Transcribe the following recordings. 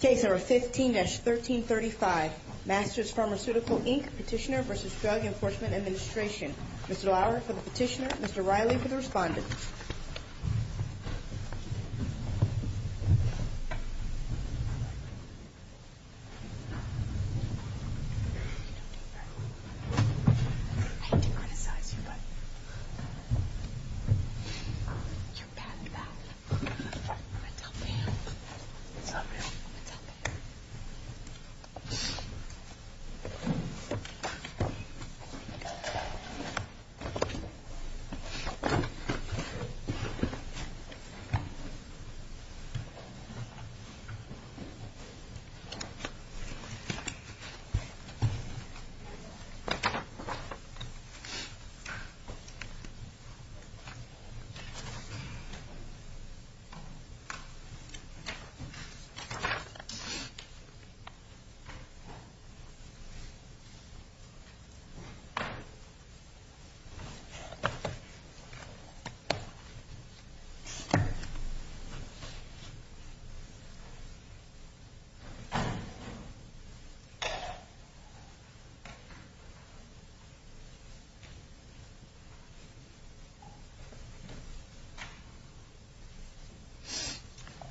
Case number 15-1335. Masters Pharmaceutical, Inc. Petitioner v. Drug Enforcement Administration. Mr. Dallara for the petitioner, Mr. Riley for the respondent. You don't need that. I hate to criticize you, but... You're bad, you're bad. I'm going to tell Pam. Tell Pam? I'm going to tell Pam. I'm going to tell Pam.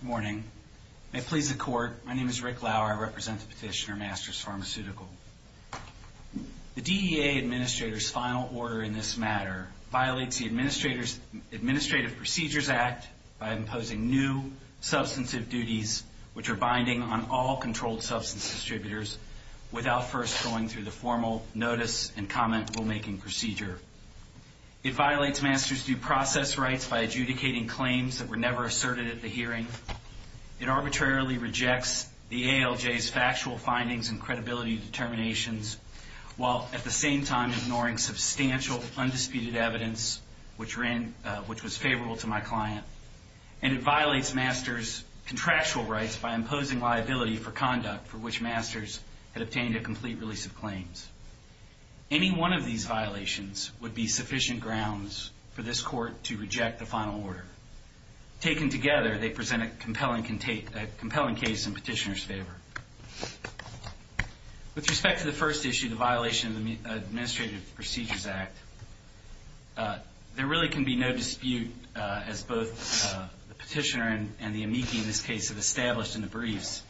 Good morning. May it please the court, my name is Rick Lauer. I represent the petitioner, Masters Pharmaceutical. The DEA Administrator's final order in this matter violates the Administrative Procedures Act by imposing new substantive duties which are binding on all controlled substance distributors without first going through the formal notice and comment rulemaking procedure. It violates Masters' due process rights by adjudicating claims that were never asserted at the hearing. It arbitrarily rejects the ALJ's factual findings and credibility determinations while at the same time ignoring substantial undisputed evidence which was favorable to my client. And it violates Masters' contractual rights by imposing liability for conduct for which Masters had obtained a complete release of claims. Any one of these violations would be sufficient grounds for this court to reject the final order. Taken together, they present a compelling case in petitioner's favor. With respect to the first issue, the violation of the Administrative Procedures Act, there really can be no dispute as both the petitioner and the amici in this case have established in the briefs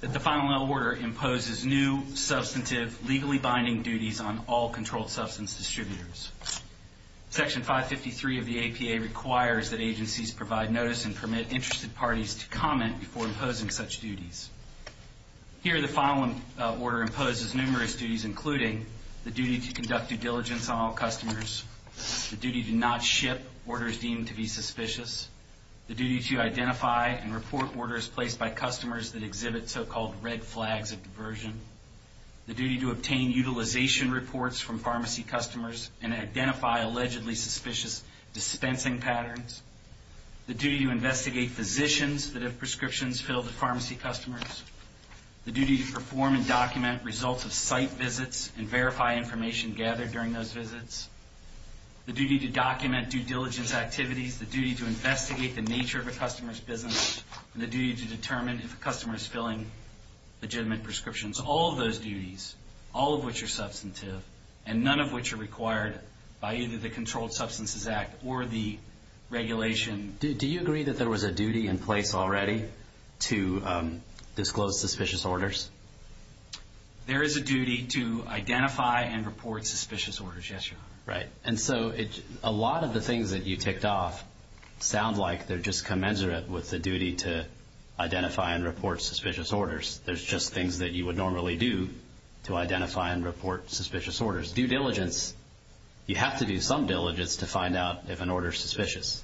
that the final order imposes new substantive, legally binding duties on all controlled substance distributors. Section 553 of the APA requires that agencies provide notice and permit interested parties to comment before imposing such duties. Here, the final order imposes numerous duties, including the duty to conduct due diligence on all customers, the duty to not ship orders deemed to be suspicious, the duty to identify and report orders placed by customers that exhibit so-called red flags of diversion, the duty to obtain utilization reports from pharmacy customers and identify allegedly suspicious dispensing patterns, the duty to investigate physicians that have prescriptions filled at pharmacy customers, the duty to perform and document results of site visits and verify information gathered during those visits, the duty to document due diligence activities, the duty to investigate the nature of a customer's business, and the duty to determine if a customer is filling legitimate prescriptions. All of those duties, all of which are substantive, and none of which are required by either the Controlled Substances Act or the regulation. Do you agree that there was a duty in place already to disclose suspicious orders? There is a duty to identify and report suspicious orders, yes, Your Honor. Right. And so a lot of the things that you ticked off sound like they're just commensurate with the duty to identify and report suspicious orders. There's just things that you would normally do to identify and report suspicious orders. Due diligence, you have to do some diligence to find out if an order is suspicious.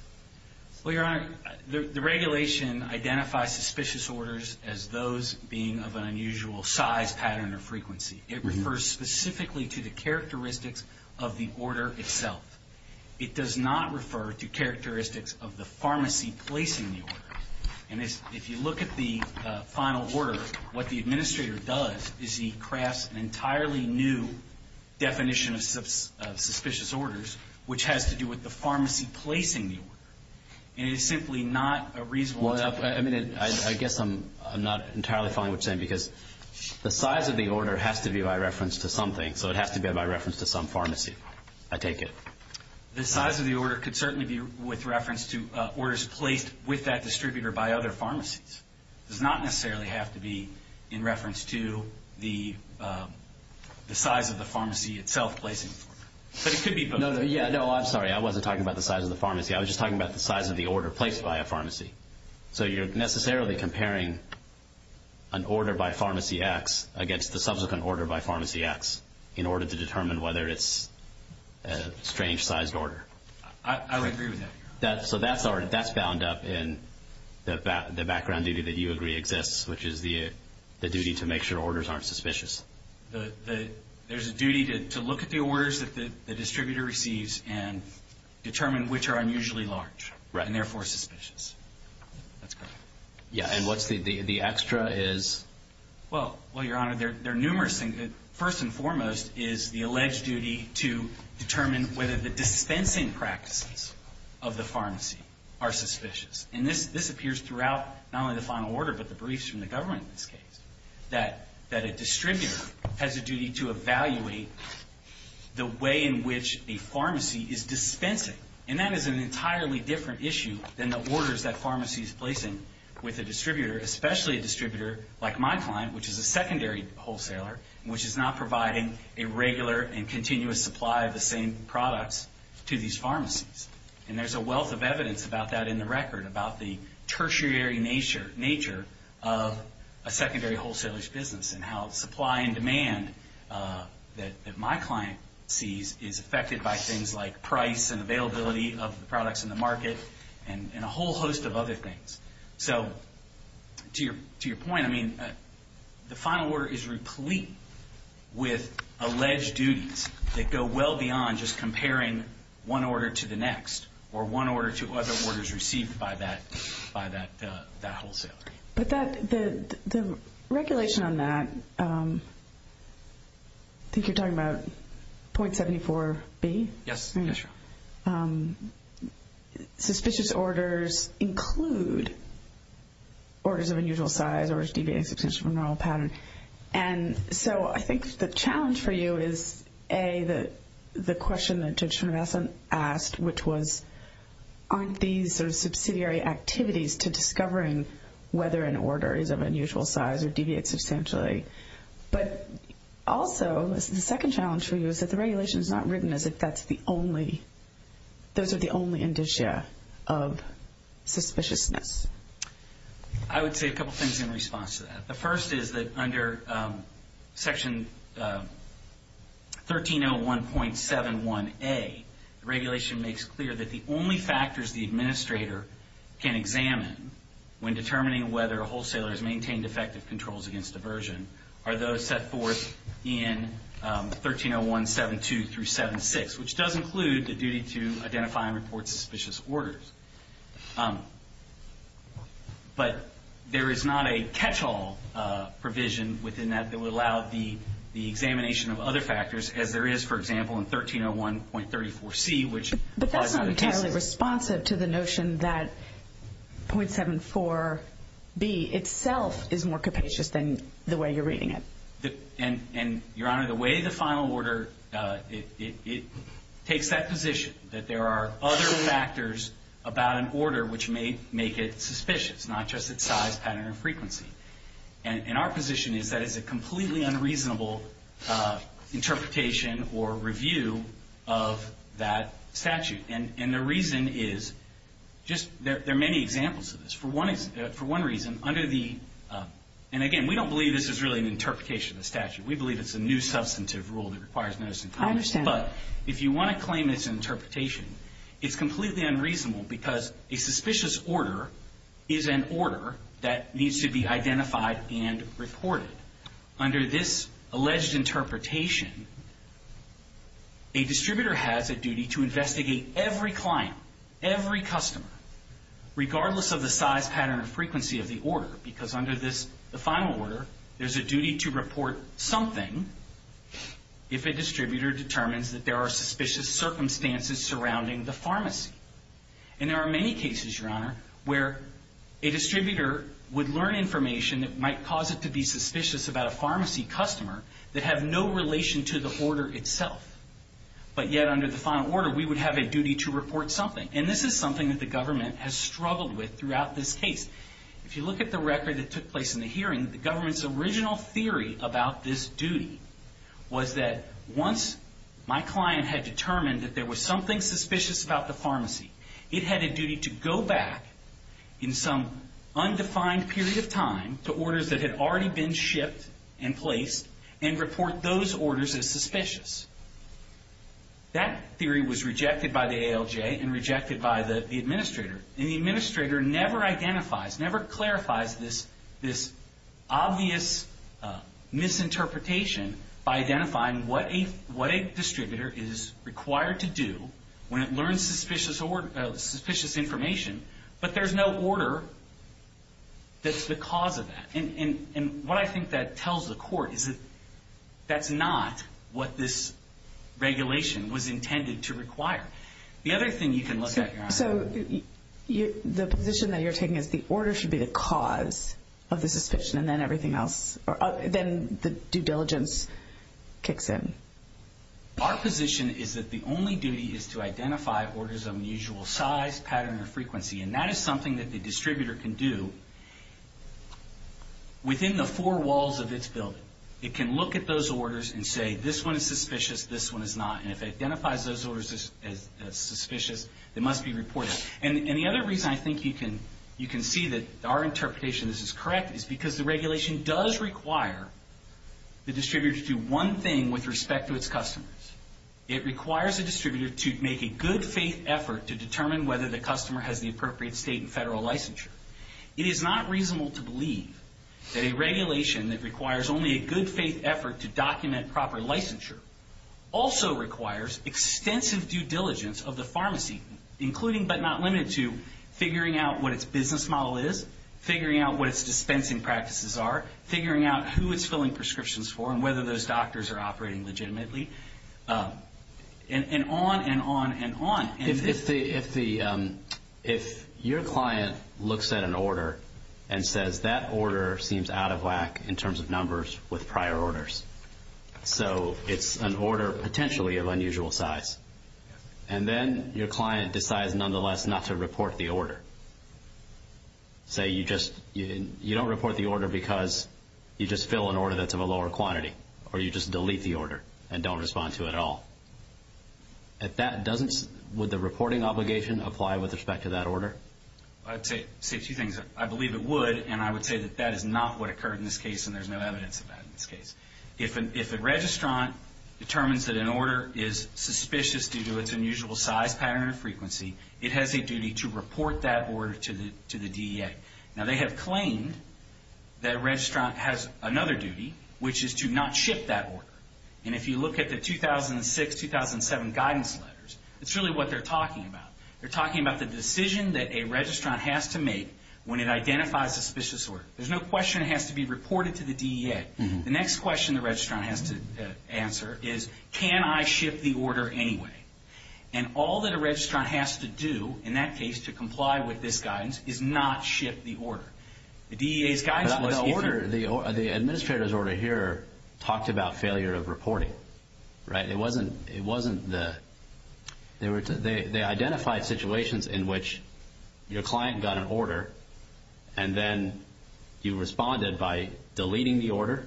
Well, Your Honor, the regulation identifies suspicious orders as those being of an unusual size, pattern, or frequency. It refers specifically to the characteristics of the order itself. It does not refer to characteristics of the pharmacy placing the order. And if you look at the final order, what the administrator does is he crafts an entirely new definition of suspicious orders, which has to do with the pharmacy placing the order. And it is simply not a reasonable... I guess I'm not entirely following what you're saying because the size of the order has to be by reference to something, so it has to be by reference to some pharmacy. I take it. The size of the order could certainly be with reference to orders placed with that distributor by other pharmacies. It does not necessarily have to be in reference to the size of the pharmacy itself placing the order. But it could be both. Yeah, no, I'm sorry. I wasn't talking about the size of the pharmacy. I was just talking about the size of the order placed by a pharmacy. So you're necessarily comparing an order by pharmacy X against the subsequent order by pharmacy X in order to determine whether it's a strange-sized order. I would agree with that, Your Honor. So that's bound up in the background duty that you agree exists, which is the duty to make sure orders aren't suspicious. There's a duty to look at the orders that the distributor receives and determine which are unusually large and therefore suspicious. That's correct. Yeah, and what's the extra is? Well, Your Honor, there are numerous things. First and foremost is the alleged duty to determine whether the dispensing practices of the pharmacy are suspicious. And this appears throughout not only the final order but the briefs from the government in this case, that a distributor has a duty to evaluate the way in which a pharmacy is dispensing. And that is an entirely different issue than the orders that a pharmacy is placing with a distributor, especially a distributor like my client, which is a secondary wholesaler, which is not providing a regular and continuous supply of the same products to these pharmacies. And there's a wealth of evidence about that in the record, about the tertiary nature of a secondary wholesaler's business and how supply and demand that my client sees is affected by things like price and availability of the products in the market and a whole host of other things. So to your point, I mean, the final order is replete with alleged duties that go well beyond just comparing one order to the next or one order to other orders received by that wholesaler. But the regulation on that, I think you're talking about .74B? Yes, Your Honor. Suspicious orders include orders of unusual size or deviating substantially from the normal pattern. And so I think the challenge for you is, A, the question that Judge Tremendousen asked, which was aren't these sort of subsidiary activities to discovering whether an order is of unusual size or deviates substantially? But also, the second challenge for you is that the regulation is not written as if those are the only indicia of suspiciousness. I would say a couple things in response to that. The first is that under Section 1301.71A, the regulation makes clear that the only factors the administrator can examine when determining whether a wholesaler has maintained effective controls against diversion are those set forth in 1301.72-76, which does include the duty to identify and report suspicious orders. But there is not a catch-all provision within that that would allow the examination of other factors, as there is, for example, in 1301.34C, which applies to other cases. But that's not entirely responsive to the notion that .74B itself is more capacious than the way you're reading it. And, Your Honor, the way the final order, it takes that position that there are other factors about an order which may make it suspicious, not just its size, pattern, or frequency. And our position is that it's a completely unreasonable interpretation or review of that statute. And the reason is just there are many examples of this. For one reason, under the – and, again, we don't believe this is really an interpretation of the statute. We believe it's a new substantive rule that requires notice in court. I understand. But if you want to claim it's an interpretation, it's completely unreasonable because a suspicious order is an order that needs to be identified and reported. Under this alleged interpretation, a distributor has a duty to investigate every client, every customer, regardless of the size, pattern, or frequency of the order. Because under the final order, there's a duty to report something if a distributor determines that there are suspicious circumstances surrounding the pharmacy. And there are many cases, Your Honor, where a distributor would learn information that might cause it to be suspicious about a pharmacy customer that have no relation to the order itself. But yet, under the final order, we would have a duty to report something. And this is something that the government has struggled with throughout this case. If you look at the record that took place in the hearing, the government's original theory about this duty was that once my client had determined that there was something suspicious about the pharmacy, it had a duty to go back in some undefined period of time to orders that had already been shipped and placed and report those orders as suspicious. That theory was rejected by the ALJ and rejected by the administrator. And the administrator never identifies, never clarifies this obvious misinterpretation by identifying what a distributor is required to do when it learns suspicious information, but there's no order that's the cause of that. And what I think that tells the court is that that's not what this regulation was intended to require. The other thing you can look at, Your Honor. So the position that you're taking is the order should be the cause of the suspicion and then everything else, then the due diligence kicks in. Our position is that the only duty is to identify orders of unusual size, pattern, or frequency. And that is something that the distributor can do within the four walls of its building. It can look at those orders and say this one is suspicious, this one is not. And if it identifies those orders as suspicious, it must be reported. And the other reason I think you can see that our interpretation of this is correct is because the regulation does require the distributor to do one thing with respect to its customers. It requires the distributor to make a good faith effort to determine whether the customer has the appropriate state and federal licensure. It is not reasonable to believe that a regulation that requires only a good faith effort to document proper licensure also requires extensive due diligence of the pharmacy, including but not limited to figuring out what its business model is, figuring out what its dispensing practices are, figuring out who it's filling prescriptions for and whether those doctors are operating legitimately, and on and on and on. If your client looks at an order and says that order seems out of whack in terms of numbers with prior orders, so it's an order potentially of unusual size, and then your client decides nonetheless not to report the order. Say you don't report the order because you just fill an order that's of a lower quantity or you just delete the order and don't respond to it at all. If that doesn't, would the reporting obligation apply with respect to that order? I'd say two things. I believe it would, and I would say that that is not what occurred in this case, and there's no evidence of that in this case. If a registrant determines that an order is suspicious due to its unusual size, pattern, or frequency, it has a duty to report that order to the DEA. Now, they have claimed that a registrant has another duty, which is to not ship that order. And if you look at the 2006-2007 guidance letters, it's really what they're talking about. They're talking about the decision that a registrant has to make when it identifies suspicious order. There's no question it has to be reported to the DEA. The next question the registrant has to answer is, can I ship the order anyway? And all that a registrant has to do in that case to comply with this guidance is not ship the order. The order, the administrator's order here talked about failure of reporting, right? It wasn't the – they identified situations in which your client got an order and then you responded by deleting the order,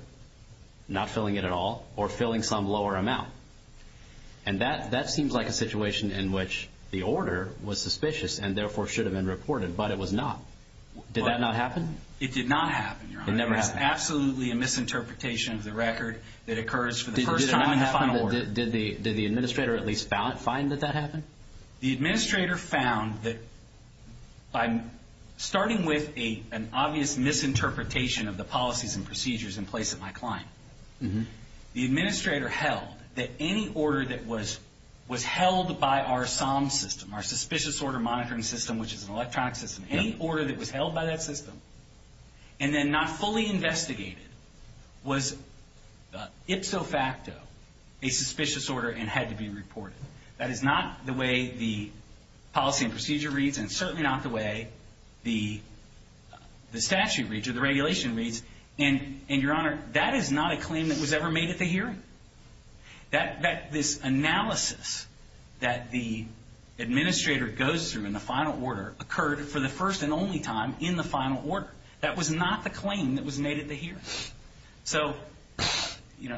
not filling it at all, or filling some lower amount. And that seems like a situation in which the order was suspicious and therefore should have been reported, but it was not. Did that not happen? It did not happen, Your Honor. It never happened. It's absolutely a misinterpretation of the record that occurs for the first time in the final order. Did the administrator at least find that that happened? The administrator found that by starting with an obvious misinterpretation of the policies and procedures in place at my client, the administrator held that any order that was held by our SOM system, our Suspicious Order Monitoring System, which is an electronic system, any order that was held by that system and then not fully investigated was ipso facto a suspicious order and had to be reported. That is not the way the policy and procedure reads and certainly not the way the statute reads or the regulation reads. And, Your Honor, that is not a claim that was ever made at the hearing. This analysis that the administrator goes through in the final order occurred for the first and only time in the final order. That was not the claim that was made at the hearing. So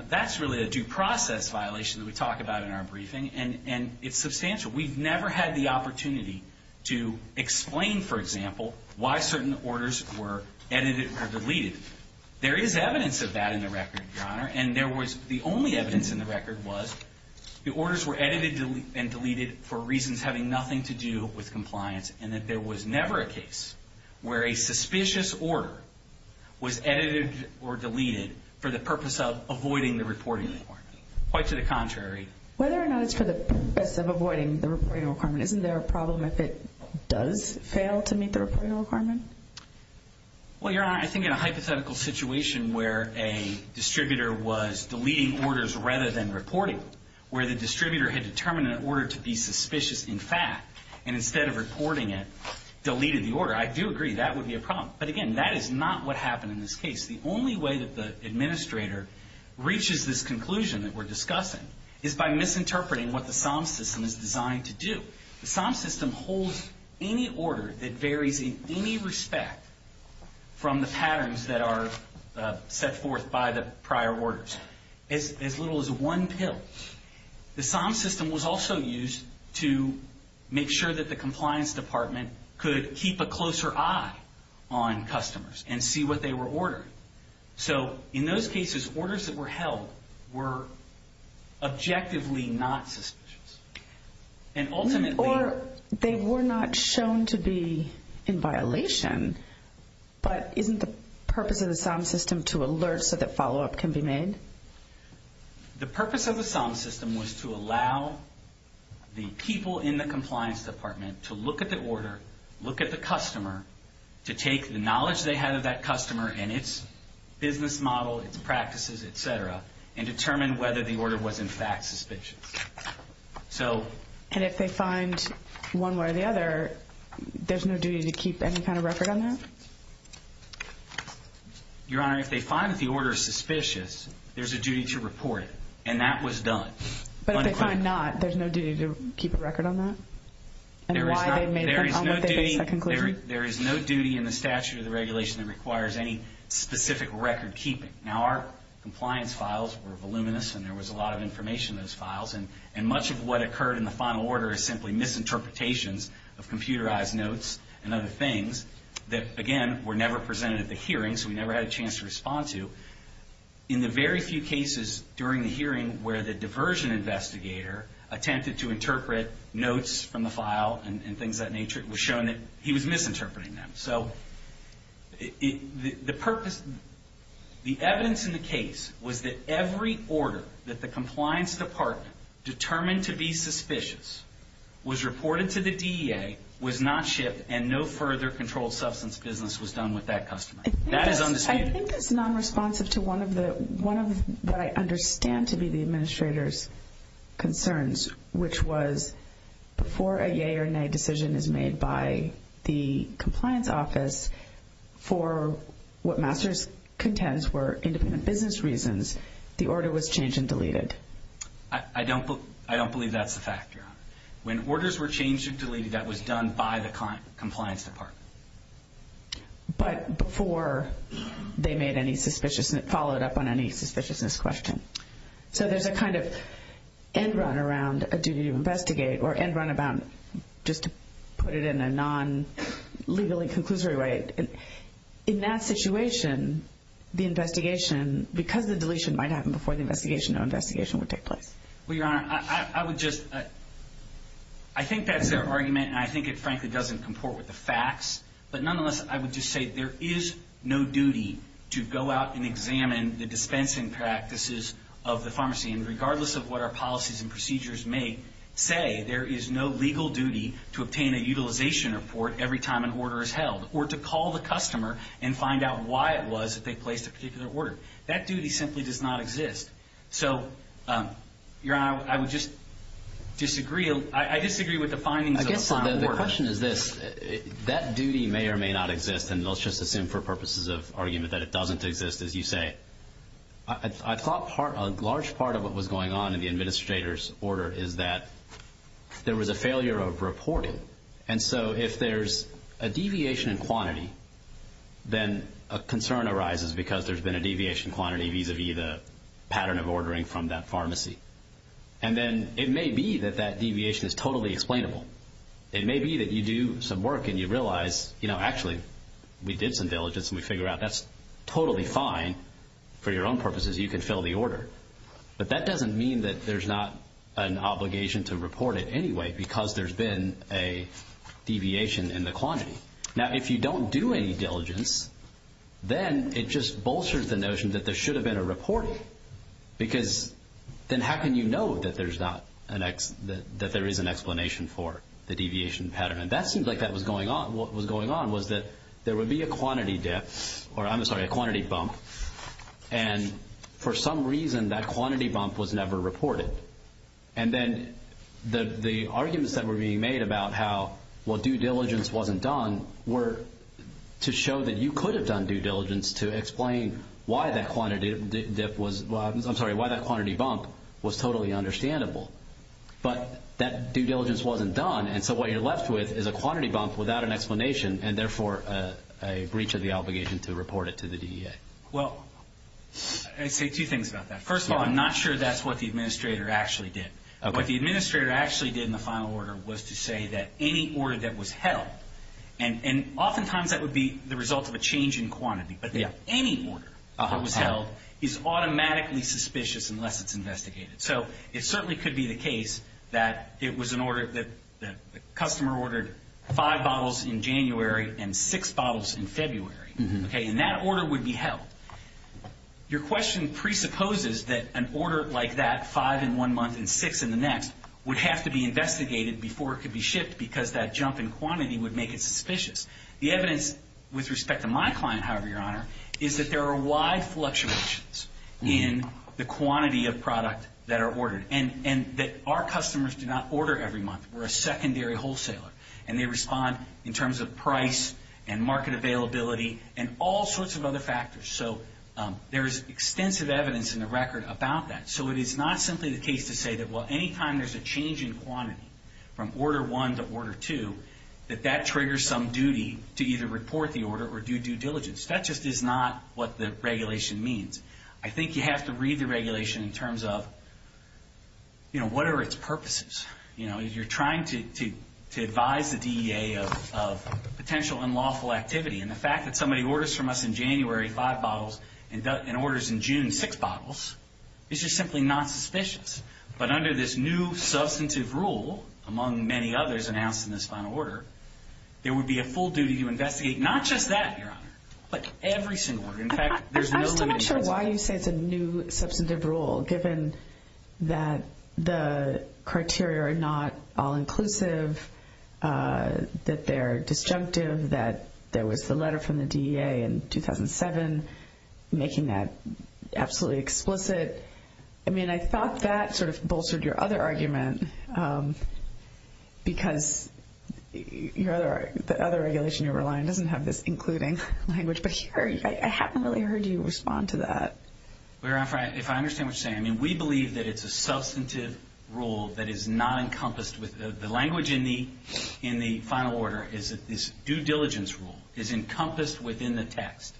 that's really a due process violation that we talk about in our briefing, and it's substantial. We've never had the opportunity to explain, for example, why certain orders were edited or deleted. And the only evidence in the record was the orders were edited and deleted for reasons having nothing to do with compliance and that there was never a case where a suspicious order was edited or deleted for the purpose of avoiding the reporting requirement. Quite to the contrary. Whether or not it's for the purpose of avoiding the reporting requirement, isn't there a problem if it does fail to meet the reporting requirement? Well, Your Honor, I think in a hypothetical situation where a distributor was deleting orders rather than reporting, where the distributor had determined an order to be suspicious, in fact, and instead of reporting it, deleted the order, I do agree that would be a problem. But, again, that is not what happened in this case. The only way that the administrator reaches this conclusion that we're discussing is by misinterpreting what the SOM system is designed to do. The SOM system holds any order that varies in any respect from the patterns that are set forth by the prior orders, as little as one pill. The SOM system was also used to make sure that the compliance department could keep a closer eye on customers and see what they were ordering. So, in those cases, orders that were held were objectively not suspicious. Or they were not shown to be in violation, but isn't the purpose of the SOM system to alert so that follow-up can be made? The purpose of the SOM system was to allow the people in the compliance department to look at the order, look at the customer, to take the knowledge they had of that customer and its business model, its practices, et cetera, and determine whether the order was in fact suspicious. And if they find one way or the other, there's no duty to keep any kind of record on that? Your Honor, if they find that the order is suspicious, there's a duty to report it. And that was done. But if they find not, there's no duty to keep a record on that? There is no duty in the statute of the regulation that requires any specific record keeping. Now, our compliance files were voluminous, and there was a lot of information in those files. And much of what occurred in the final order is simply misinterpretations of computerized notes and other things that, again, were never presented at the hearing, so we never had a chance to respond to. In the very few cases during the hearing where the diversion investigator attempted to interpret notes from the file and things of that nature, it was shown that he was misinterpreting them. So the purpose, the evidence in the case, was that every order that the compliance department determined to be suspicious was reported to the DEA, was not shipped, and no further controlled substance business was done with that customer. That is undisputed. I think it's nonresponsive to one of what I understand to be the administrator's concerns, which was before a yea or nay decision is made by the compliance office for what Masters contends were independent business reasons, the order was changed and deleted. I don't believe that's the fact, Your Honor. When orders were changed or deleted, that was done by the compliance department. But before they made any suspiciousness, followed up on any suspiciousness question. So there's a kind of end run around a duty to investigate, or end run about just to put it in a non-legally conclusory way. In that situation, the investigation, because the deletion might happen before the investigation, no investigation would take place. Well, Your Honor, I would just, I think that's their argument, and I think it frankly doesn't comport with the facts, but nonetheless I would just say there is no duty to go out and examine the dispensing practices of the pharmacy, and regardless of what our policies and procedures may say, there is no legal duty to obtain a utilization report every time an order is held, or to call the customer and find out why it was that they placed a particular order. That duty simply does not exist. So, Your Honor, I would just disagree. I disagree with the findings of a signed order. I guess the question is this, that duty may or may not exist, and let's just assume for purposes of argument that it doesn't exist, as you say. I thought a large part of what was going on in the administrator's order is that there was a failure of reporting. And so if there's a deviation in quantity, then a concern arises because there's been a deviation in quantity vis-a-vis the pattern of ordering from that pharmacy. And then it may be that that deviation is totally explainable. It may be that you do some work and you realize, you know, for your own purposes, you can fill the order. But that doesn't mean that there's not an obligation to report it anyway because there's been a deviation in the quantity. Now, if you don't do any diligence, then it just bolsters the notion that there should have been a reporting because then how can you know that there is an explanation for the deviation pattern? And that seemed like that was going on. And what was going on was that there would be a quantity bump, and for some reason that quantity bump was never reported. And then the arguments that were being made about how due diligence wasn't done were to show that you could have done due diligence to explain why that quantity bump was totally understandable. But that due diligence wasn't done, and so what you're left with is a quantity bump without an explanation and therefore a breach of the obligation to report it to the DEA. Well, I'd say two things about that. First of all, I'm not sure that's what the administrator actually did. What the administrator actually did in the final order was to say that any order that was held, and oftentimes that would be the result of a change in quantity, but any order that was held is automatically suspicious unless it's investigated. So it certainly could be the case that the customer ordered five bottles in January and six bottles in February, and that order would be held. Your question presupposes that an order like that, five in one month and six in the next, would have to be investigated before it could be shipped because that jump in quantity would make it suspicious. The evidence with respect to my client, however, Your Honor, is that there are wide fluctuations in the quantity of product that are ordered and that our customers do not order every month. We're a secondary wholesaler, and they respond in terms of price and market availability and all sorts of other factors. So there is extensive evidence in the record about that. So it is not simply the case to say that, well, any time there's a change in quantity from order one to order two, that that triggers some duty to either report the order or do due diligence. That just is not what the regulation means. I think you have to read the regulation in terms of, you know, what are its purposes. You know, you're trying to advise the DEA of potential unlawful activity, and the fact that somebody orders from us in January five bottles and orders in June six bottles is just simply not suspicious. But under this new substantive rule, among many others announced in this final order, there would be a full duty to investigate not just that, Your Honor, but every single order. I'm still not sure why you say it's a new substantive rule, given that the criteria are not all inclusive, that they're disjunctive, that there was the letter from the DEA in 2007 making that absolutely explicit. I mean, I thought that sort of bolstered your other argument, because the other regulation you're relying on doesn't have this including language. But here I haven't really heard you respond to that. Well, Your Honor, if I understand what you're saying, I mean, we believe that it's a substantive rule that is not encompassed with the language in the final order, is that this due diligence rule is encompassed within the text.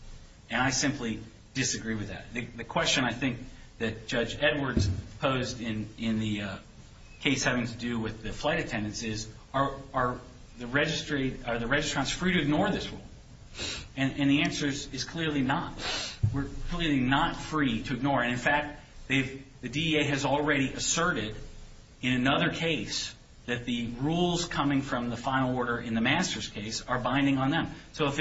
And I simply disagree with that. The question I think that Judge Edwards posed in the case having to do with the flight attendants is, are the registrants free to ignore this rule? And the answer is clearly not. We're clearly not free to ignore it. And, in fact, the DEA has already asserted in another case that the rules coming from the final order in the Masters case are binding on them. So if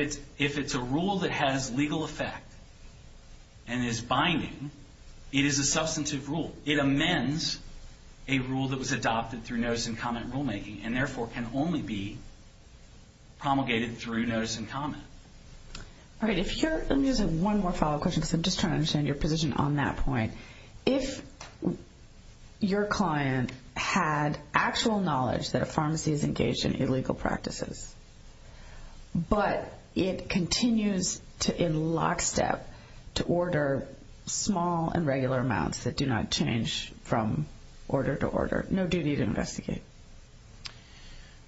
it's a rule that has legal effect and is binding, it is a substantive rule. It amends a rule that was adopted through notice-and-comment rulemaking and, therefore, can only be promulgated through notice-and-comment. All right. Let me ask one more follow-up question, because I'm just trying to understand your position on that point. If your client had actual knowledge that a pharmacy is engaged in illegal practices, but it continues in lockstep to order small and regular amounts that do not change from order to order, no duty to investigate?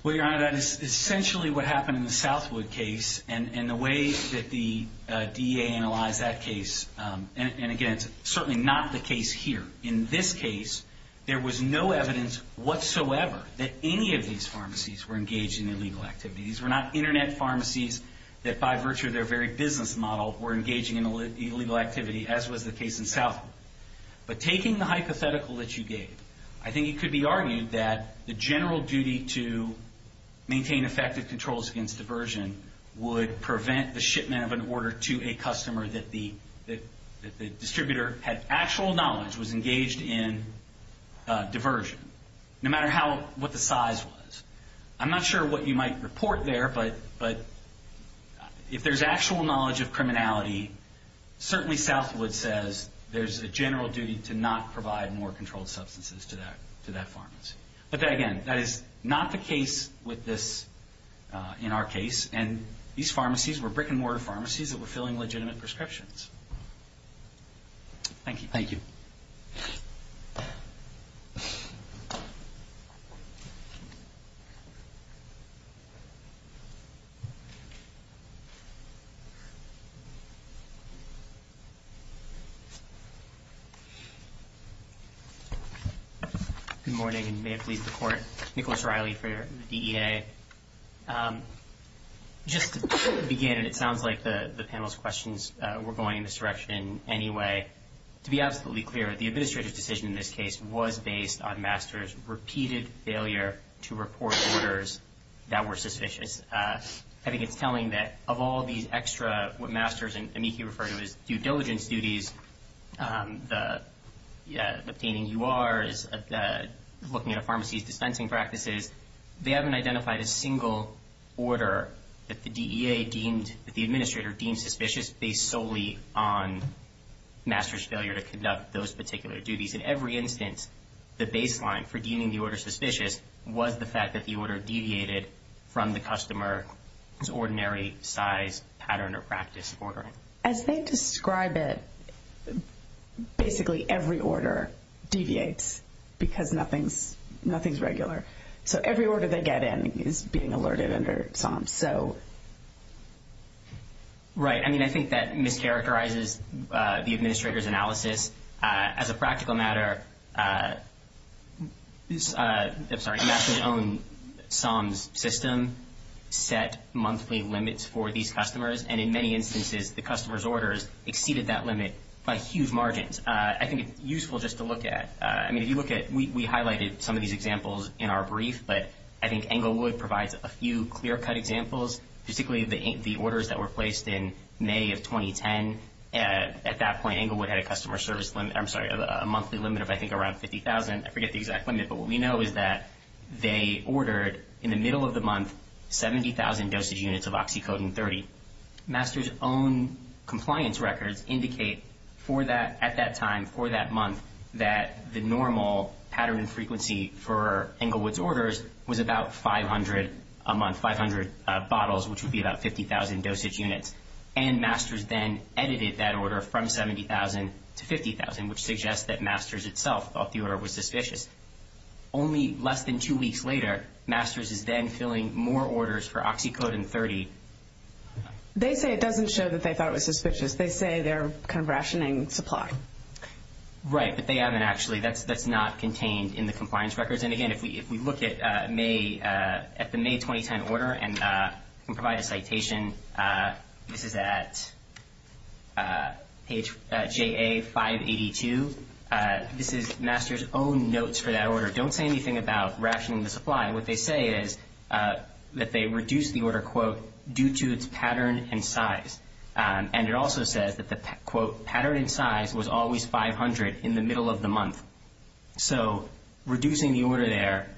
Well, Your Honor, that is essentially what happened in the Southwood case. And the way that the DEA analyzed that case, and, again, it's certainly not the case here. In this case, there was no evidence whatsoever that any of these pharmacies were engaged in illegal activity. These were not Internet pharmacies that, by virtue of their very business model, were engaging in illegal activity, as was the case in Southwood. But taking the hypothetical that you gave, I think it could be argued that the general duty to maintain effective controls against diversion would prevent the shipment of an order to a customer that the distributor had actual knowledge was engaged in diversion, no matter what the size was. I'm not sure what you might report there, but if there's actual knowledge of criminality, certainly Southwood says there's a general duty to not provide more controlled substances to that pharmacy. But, again, that is not the case with this, in our case. And these pharmacies were brick-and-mortar pharmacies that were filling legitimate prescriptions. Thank you. Thank you. Thank you. Good morning, and may it please the Court. Nicholas Riley for the DEA. Just to begin, and it sounds like the panel's questions were going in this direction anyway, to be absolutely clear, the administrative decision in this case was based on MASTERS' repeated failure to report orders that were suspicious. I think it's telling that of all these extra what MASTERS and amici refer to as due diligence duties, the obtaining URs, looking at a pharmacy's dispensing practices, they haven't identified a single order that the DEA deemed, that the administrator deemed suspicious, based solely on MASTERS' failure to conduct those particular duties. In every instance, the baseline for deeming the order suspicious was the fact that the order deviated from the customer's ordinary size, pattern, or practice of ordering. As they describe it, basically every order deviates because nothing's regular. So every order they get in is being alerted under SOMS. Right. I mean, I think that mischaracterizes the administrator's analysis. As a practical matter, MASTERS' own SOMS system set monthly limits for these customers, and in many instances the customer's orders exceeded that limit by huge margins. I think it's useful just to look at. I mean, if you look at, we highlighted some of these examples in our brief, but I think Englewood provides a few clear-cut examples, particularly the orders that were placed in May of 2010. At that point, Englewood had a monthly limit of, I think, around 50,000. I forget the exact limit, but what we know is that they ordered, in the middle of the month, 70,000 dosage units of oxycodone-30. MASTERS' own compliance records indicate at that time, for that month, that the normal pattern and frequency for Englewood's orders was about 500 a month, 500 bottles, which would be about 50,000 dosage units. And MASTERS then edited that order from 70,000 to 50,000, which suggests that MASTERS itself thought the order was suspicious. Only less than two weeks later, MASTERS is then filling more orders for oxycodone-30. They say it doesn't show that they thought it was suspicious. They say they're kind of rationing supply. Right, but they haven't actually. That's not contained in the compliance records. And, again, if we look at the May 2010 order and provide a citation, this is at page JA582. This is MASTERS' own notes for that order. Don't say anything about rationing the supply. What they say is that they reduced the order, quote, due to its pattern and size. And it also says that the, quote, pattern and size was always 500 in the middle of the month. So reducing the order there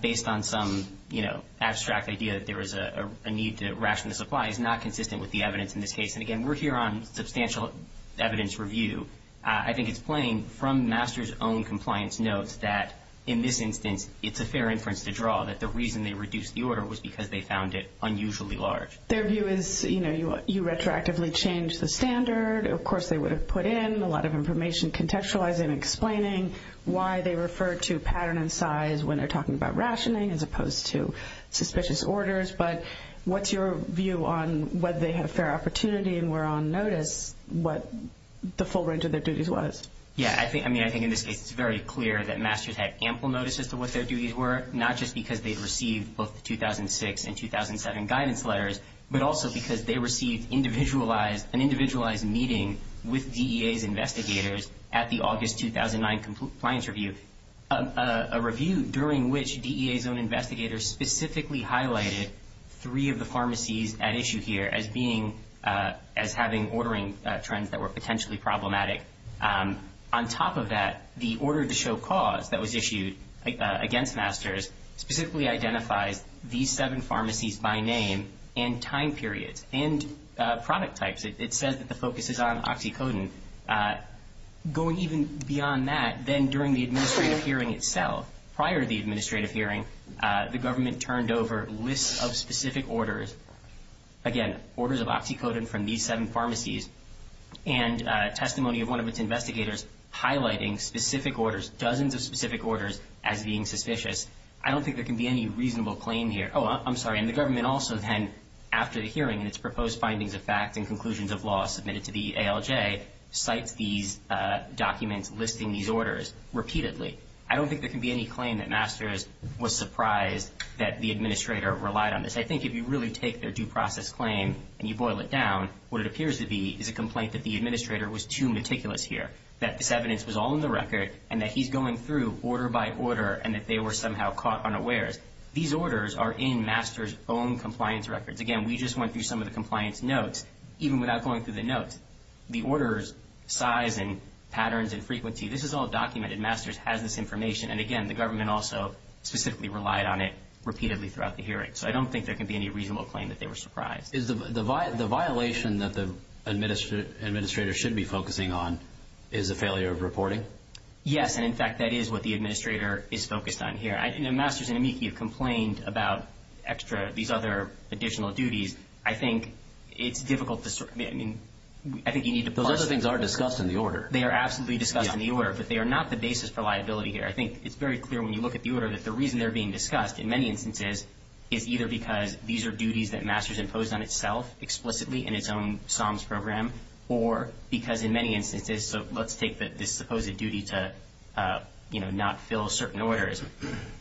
based on some, you know, abstract idea that there was a need to ration the supply is not consistent with the evidence in this case. And, again, we're here on substantial evidence review. I think it's plain from MASTERS' own compliance notes that, in this instance, it's a fair inference to draw that the reason they reduced the order was because they found it unusually large. Their view is, you know, you retroactively change the standard. Of course, they would have put in a lot of information contextualizing and explaining why they refer to pattern and size when they're talking about rationing as opposed to suspicious orders. But what's your view on whether they had a fair opportunity and were on notice what the full range of their duties was? Yeah, I mean, I think in this case it's very clear that MASTERS had ample notices to what their duties were, not just because they had received both the 2006 and 2007 guidance letters, but also because they received an individualized meeting with DEA's investigators at the August 2009 compliance review, a review during which DEA's own investigators specifically highlighted three of the pharmacies at issue here as having ordering trends that were potentially problematic. On top of that, the order to show cause that was issued against MASTERS specifically identifies these seven pharmacies by name and time periods and product types. It says that the focus is on oxycodone. Going even beyond that, then during the administrative hearing itself, prior to the administrative hearing, the government turned over lists of specific orders, again, orders of oxycodone from these seven pharmacies, and testimony of one of its investigators highlighting specific orders, dozens of specific orders, as being suspicious. I don't think there can be any reasonable claim here. Oh, I'm sorry. And the government also then, after the hearing and its proposed findings of facts and conclusions of law submitted to the ALJ, cites these documents listing these orders repeatedly. I don't think there can be any claim that MASTERS was surprised that the administrator relied on this. I think if you really take their due process claim and you boil it down, what it appears to be is a complaint that the administrator was too meticulous here, that this evidence was all in the record, and that he's going through order by order, and that they were somehow caught unawares. These orders are in MASTERS' own compliance records. Again, we just went through some of the compliance notes. Even without going through the notes, the orders' size and patterns and frequency, this is all documented. MASTERS has this information. And again, the government also specifically relied on it repeatedly throughout the hearing. So I don't think there can be any reasonable claim that they were surprised. The violation that the administrator should be focusing on is the failure of reporting? Yes, and in fact, that is what the administrator is focused on here. MASTERS and AMICI have complained about extra, these other additional duties. I think it's difficult to sort of, I mean, I think you need to parse it. Those other things are discussed in the order. They are absolutely discussed in the order, but they are not the basis for liability here. I think it's very clear when you look at the order that the reason they're being discussed in many instances is either because these are duties that MASTERS imposed on itself explicitly in its own psalms program, or because in many instances, so let's take this supposed duty to, you know, not fill certain orders.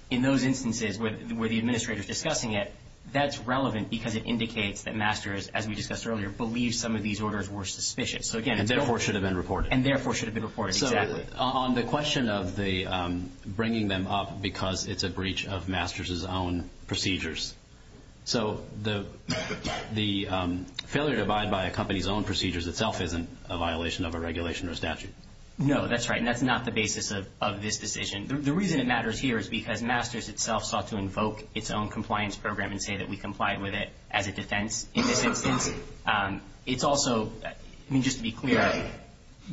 In those instances where the administrator is discussing it, that's relevant because it indicates that MASTERS, as we discussed earlier, believes some of these orders were suspicious. And therefore should have been reported. And therefore should have been reported, exactly. On the question of the bringing them up because it's a breach of MASTERS' own procedures. So the failure to abide by a company's own procedures itself isn't a violation of a regulation or a statute. No, that's right, and that's not the basis of this decision. The reason it matters here is because MASTERS itself sought to invoke its own compliance program and say that we complied with it as a defense in this instance. It's also, I mean, just to be clear,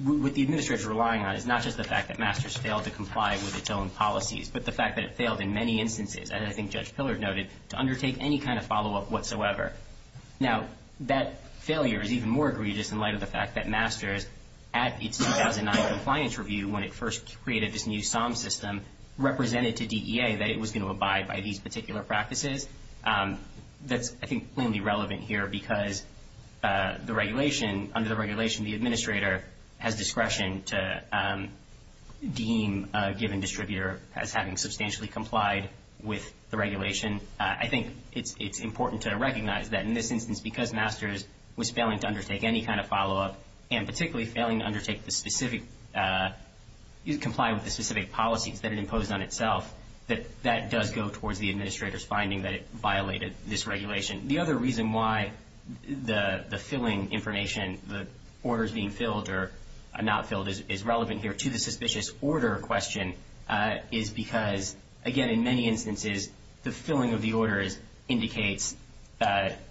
what the administrator is relying on is not just the fact that MASTERS failed to comply with its own policies, but the fact that it failed in many instances, as I think Judge Pillard noted, to undertake any kind of follow-up whatsoever. Now, that failure is even more egregious in light of the fact that MASTERS, at its 2009 compliance review when it first created this new psalm system, represented to DEA that it was going to abide by these particular practices. That's, I think, plainly relevant here because the regulation, under the regulation the administrator has discretion to deem a given distributor as having substantially complied with the regulation. I think it's important to recognize that in this instance, because MASTERS was failing to undertake any kind of follow-up and particularly failing to undertake the specific, comply with the specific policies that it imposed on itself, that that does go towards the administrator's finding that it violated this regulation. The other reason why the filling information, the orders being filled or not filled, is relevant here to the suspicious order question is because, again, in many instances the filling of the order indicates,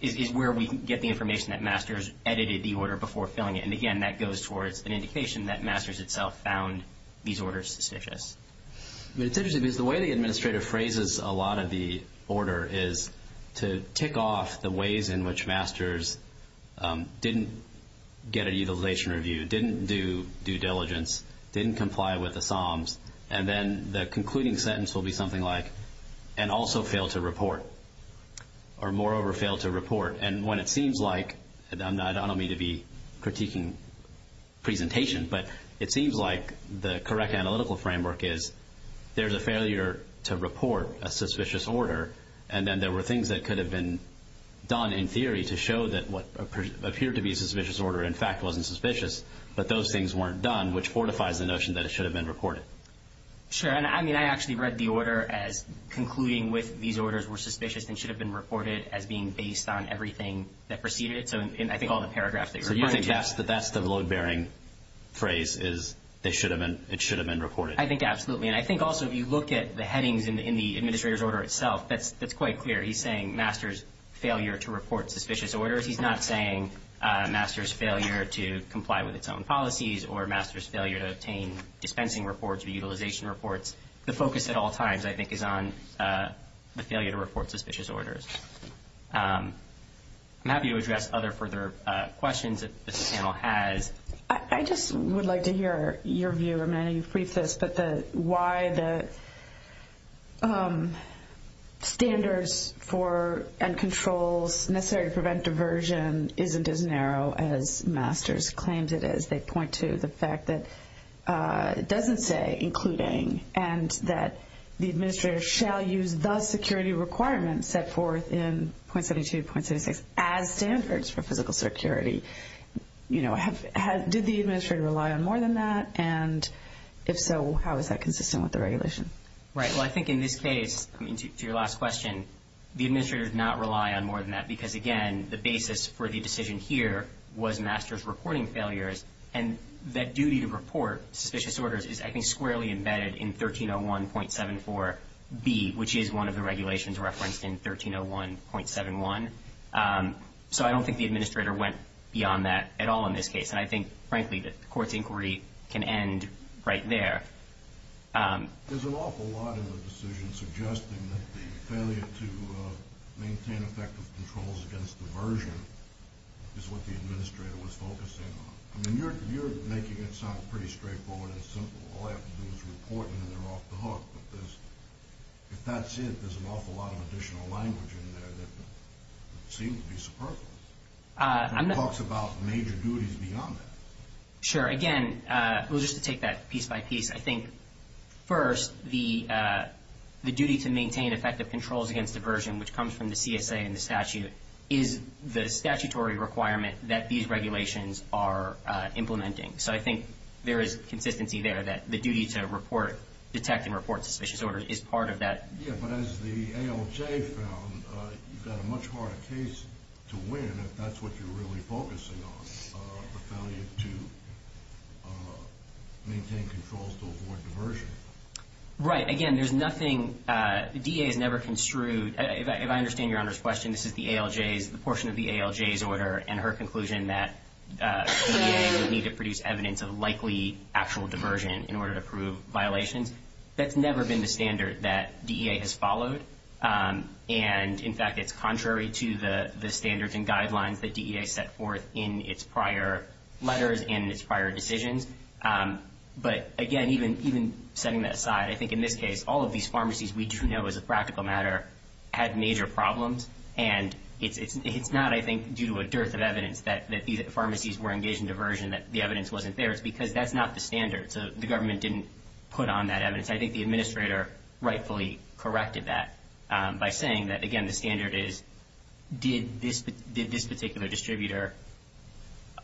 is where we get the information that MASTERS edited the order before filling it. And, again, that goes towards an indication that MASTERS itself found these orders suspicious. It's interesting because the way the administrator phrases a lot of the order is to tick off the ways in which MASTERS didn't get a utilization review, didn't do due diligence, didn't comply with the psalms, and then the concluding sentence will be something like, and also failed to report, or moreover failed to report. And when it seems like, and I don't mean to be critiquing presentation, but it seems like the correct analytical framework is, there's a failure to report a suspicious order, and then there were things that could have been done in theory to show that what appeared to be a suspicious order in fact wasn't suspicious, but those things weren't done, which fortifies the notion that it should have been reported. Sure, and I actually read the order as concluding with these orders were suspicious and should have been reported as being based on everything that preceded it. So you think that's the load-bearing phrase is it should have been reported? I think absolutely. And I think also if you look at the headings in the administrator's order itself, that's quite clear. He's saying MASTERS failure to report suspicious orders. He's not saying MASTERS failure to comply with its own policies or MASTERS failure to obtain dispensing reports or utilization reports. The focus at all times, I think, is on the failure to report suspicious orders. I'm happy to address other further questions if this panel has. I just would like to hear your view. Amanda, you've briefed us, but why the standards for and controls necessary to prevent diversion isn't as narrow as MASTERS claims it is. They point to the fact that it doesn't say including and that the administrator shall use the security requirements set forth in .72, .66 as standards for physical security. Did the administrator rely on more than that? And if so, how is that consistent with the regulation? Right. Well, I think in this case, to your last question, the administrator did not rely on more than that because, again, the basis for the decision here was MASTERS reporting failures. And that duty to report suspicious orders is, I think, squarely embedded in 1301.74B, which is one of the regulations referenced in 1301.71. So I don't think the administrator went beyond that at all in this case. And I think, frankly, that the Court's inquiry can end right there. There's an awful lot in the decision suggesting that the failure to maintain effective controls against diversion is what the administrator was focusing on. I mean, you're making it sound pretty straightforward and simple. All I have to do is report, and then they're off the hook. But if that's it, there's an awful lot of additional language in there that seems to be superfluous. It talks about major duties beyond that. Sure. Again, just to take that piece by piece, I think, first, the duty to maintain effective controls against diversion, which comes from the CSA and the statute, is the statutory requirement that these regulations are implementing. So I think there is consistency there that the duty to report, detect, and report suspicious orders is part of that. Yeah, but as the ALJ found, you've got a much harder case to win if that's what you're really focusing on, the failure to maintain controls to avoid diversion. Right. Again, there's nothing the DA has never construed. If I understand Your Honor's question, this is the ALJ's portion of the ALJ's order and her conclusion that DEA would need to produce evidence of likely actual diversion in order to prove violations. That's never been the standard that DEA has followed. And, in fact, it's contrary to the standards and guidelines that DEA set forth in its prior letters and its prior decisions. But, again, even setting that aside, I think, in this case, all of these pharmacies we do know as a practical matter had major problems, and it's not, I think, due to a dearth of evidence that these pharmacies were engaged in diversion, that the evidence wasn't there. It's because that's not the standard, so the government didn't put on that evidence. I think the administrator rightfully corrected that by saying that, again, the standard is, did this particular distributor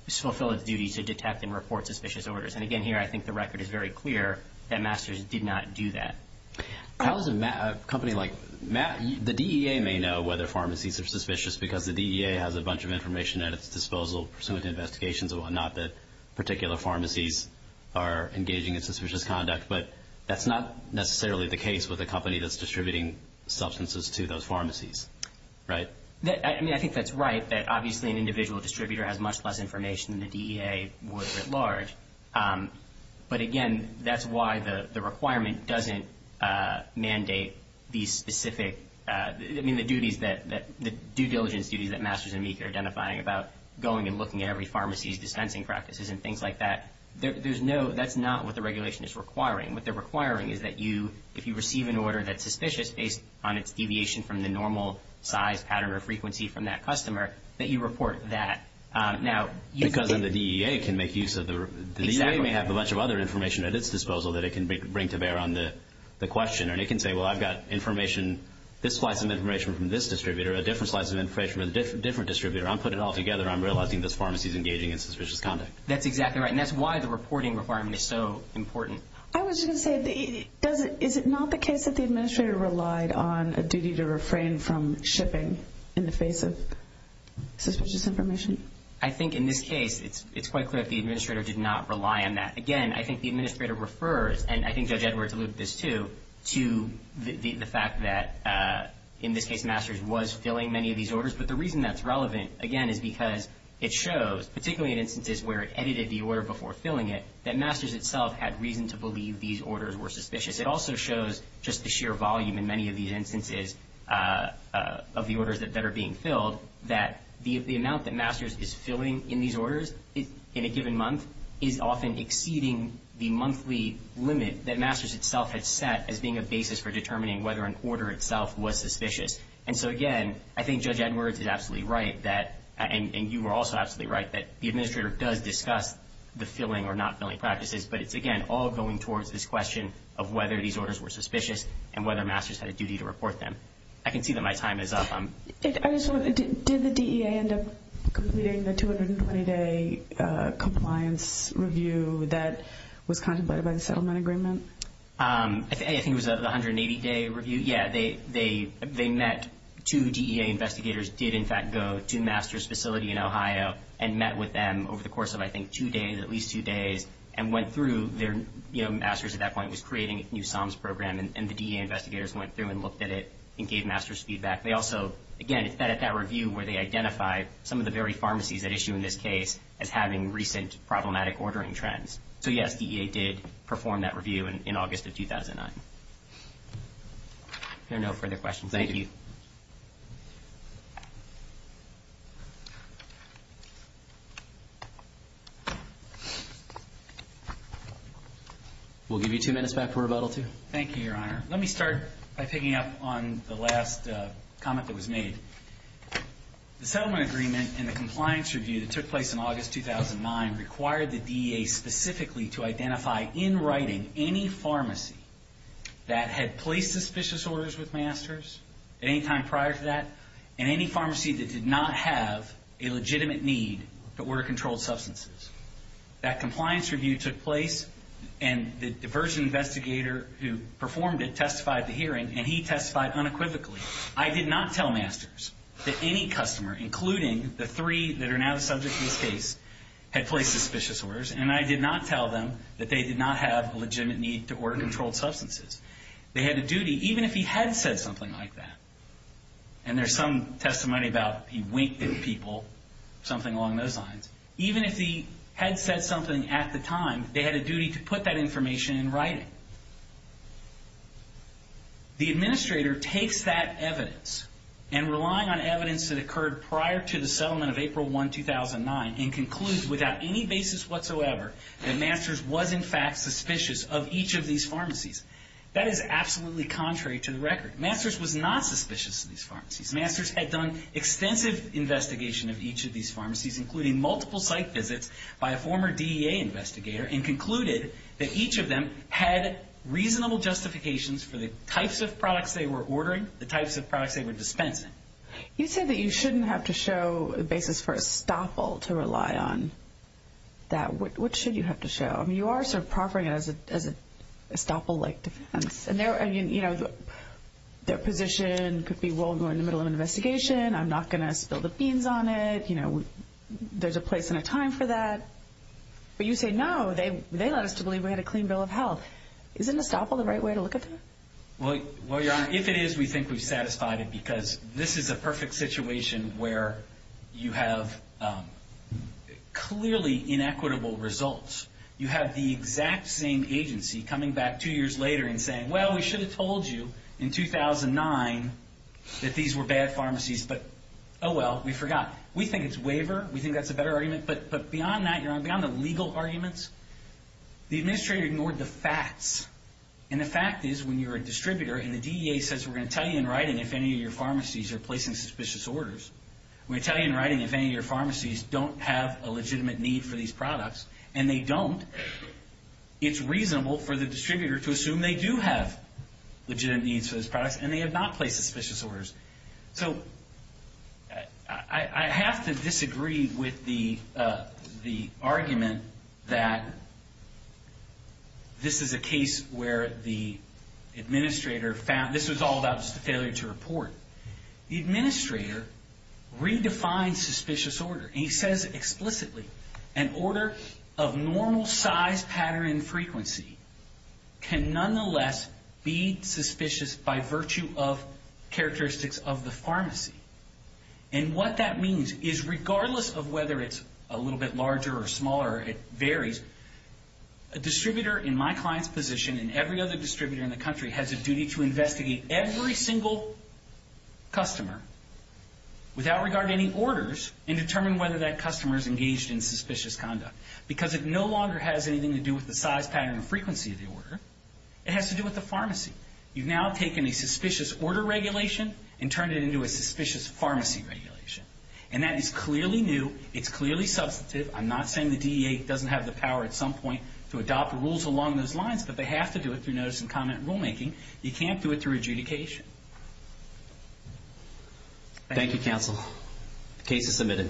fulfill its duty to detect and report suspicious orders? And, again, here I think the record is very clear that Masters did not do that. How does a company like – the DEA may know whether pharmacies are suspicious because the DEA has a bunch of information at its disposal, pursuant to investigations and whatnot, that particular pharmacies are engaging in suspicious conduct, but that's not necessarily the case with a company that's distributing substances to those pharmacies, right? I mean, I think that's right, that obviously an individual distributor has much less information than the DEA would writ large. But, again, that's why the requirement doesn't mandate these specific – I mean, the duties that – the due diligence duties that Masters and Meek are identifying about going and looking at every pharmacy's dispensing practices and things like that, there's no – that's not what the regulation is requiring. What they're requiring is that you, if you receive an order that's suspicious, based on its deviation from the normal size, pattern, or frequency from that customer, that you report that. Now – Because then the DEA can make use of the – Exactly. The DEA may have a bunch of other information at its disposal that it can bring to bear on the question, and it can say, well, I've got information – this slice of information from this distributor, a different slice of information from a different distributor. I'm putting it all together. I'm realizing this pharmacy's engaging in suspicious conduct. That's exactly right, and that's why the reporting requirement is so important. I was going to say, is it not the case that the administrator relied on a duty to refrain from shipping in the face of suspicious information? I think, in this case, it's quite clear that the administrator did not rely on that. Again, I think the administrator refers – and I think Judge Edwards alluded to this too – to the fact that, in this case, Masters was filling many of these orders. But the reason that's relevant, again, is because it shows, particularly in instances where it edited the order before filling it, that Masters itself had reason to believe these orders were suspicious. It also shows just the sheer volume in many of these instances of the orders that are being filled that the amount that Masters is filling in these orders in a given month is often exceeding the monthly limit that Masters itself had set as being a basis for determining whether an order itself was suspicious. And so, again, I think Judge Edwards is absolutely right, and you were also absolutely right, that the administrator does discuss the filling or not filling practices, but it's, again, all going towards this question of whether these orders were suspicious and whether Masters had a duty to report them. I can see that my time is up. Did the DEA end up completing the 220-day compliance review that was contemplated by the settlement agreement? I think it was the 180-day review. Yeah, they met two DEA investigators, did, in fact, go to Masters' facility in Ohio and met with them over the course of, I think, two days, at least two days, and went through their, you know, Masters at that point was creating a new SOMS program, and the DEA investigators went through and looked at it and gave Masters feedback. They also, again, it's that review where they identify some of the very pharmacies at issue in this case as having recent problematic ordering trends. So, yes, DEA did perform that review in August of 2009. There are no further questions. Thank you. We'll give you two minutes back for rebuttal, too. Thank you, Your Honor. Let me start by picking up on the last comment that was made. The settlement agreement and the compliance review that took place in August 2009 required the DEA specifically to identify, in writing, any pharmacy that had placed suspicious orders with Masters at any time prior to that, and any pharmacy that did not have a legitimate need for order-controlled substances. That compliance review took place, and the diversion investigator who performed it testified at the hearing, and he testified unequivocally. I did not tell Masters that any customer, including the three that are now the subject of this case, had placed suspicious orders, and I did not tell them that they did not have a legitimate need to order controlled substances. They had a duty, even if he had said something like that, and there's some testimony about he winked at people, something along those lines, even if he had said something at the time, they had a duty to put that information in writing. The administrator takes that evidence, and relying on evidence that occurred prior to the settlement of April 1, 2009, and concludes without any basis whatsoever that Masters was in fact suspicious of each of these pharmacies. That is absolutely contrary to the record. Masters was not suspicious of these pharmacies. Masters had done extensive investigation of each of these pharmacies, including multiple site visits by a former DEA investigator, and concluded that each of them had reasonable justifications for the types of products they were ordering, the types of products they were dispensing. You say that you shouldn't have to show a basis for estoppel to rely on. What should you have to show? You are sort of proffering it as an estoppel-like defense. Their position could be, well, we're in the middle of an investigation. I'm not going to spill the beans on it. There's a place and a time for that. But you say, no, they led us to believe we had a clean bill of health. Isn't estoppel the right way to look at that? Well, Your Honor, if it is, we think we've satisfied it because this is a perfect situation where you have clearly inequitable results. You have the exact same agency coming back two years later and saying, well, we should have told you in 2009 that these were bad pharmacies, but oh well, we forgot. We think it's waiver. We think that's a better argument. But beyond that, Your Honor, beyond the legal arguments, the administrator ignored the facts. And the fact is when you're a distributor and the DEA says we're going to tell you in writing if any of your pharmacies are placing suspicious orders, we're going to tell you in writing if any of your pharmacies don't have a legitimate need for these products, and they don't, it's reasonable for the distributor to assume they do have legitimate needs for these products and they have not placed suspicious orders. So I have to disagree with the argument that this is a case where the administrator found, this was all about just a failure to report. The administrator redefined suspicious order, and he says explicitly, an order of normal size, pattern, and frequency can nonetheless be suspicious by virtue of characteristics of the pharmacy. And what that means is regardless of whether it's a little bit larger or smaller, it varies. A distributor in my client's position and every other distributor in the country has a duty to investigate every single customer without regard to any orders and determine whether that customer is engaged in suspicious conduct because it no longer has anything to do with the size, pattern, and frequency of the order. It has to do with the pharmacy. You've now taken a suspicious order regulation and turned it into a suspicious pharmacy regulation. And that is clearly new. It's clearly substantive. I'm not saying the DEA doesn't have the power at some point to adopt rules along those lines, but they have to do it through notice and comment rulemaking. You can't do it through adjudication. Thank you, counsel. The case is submitted.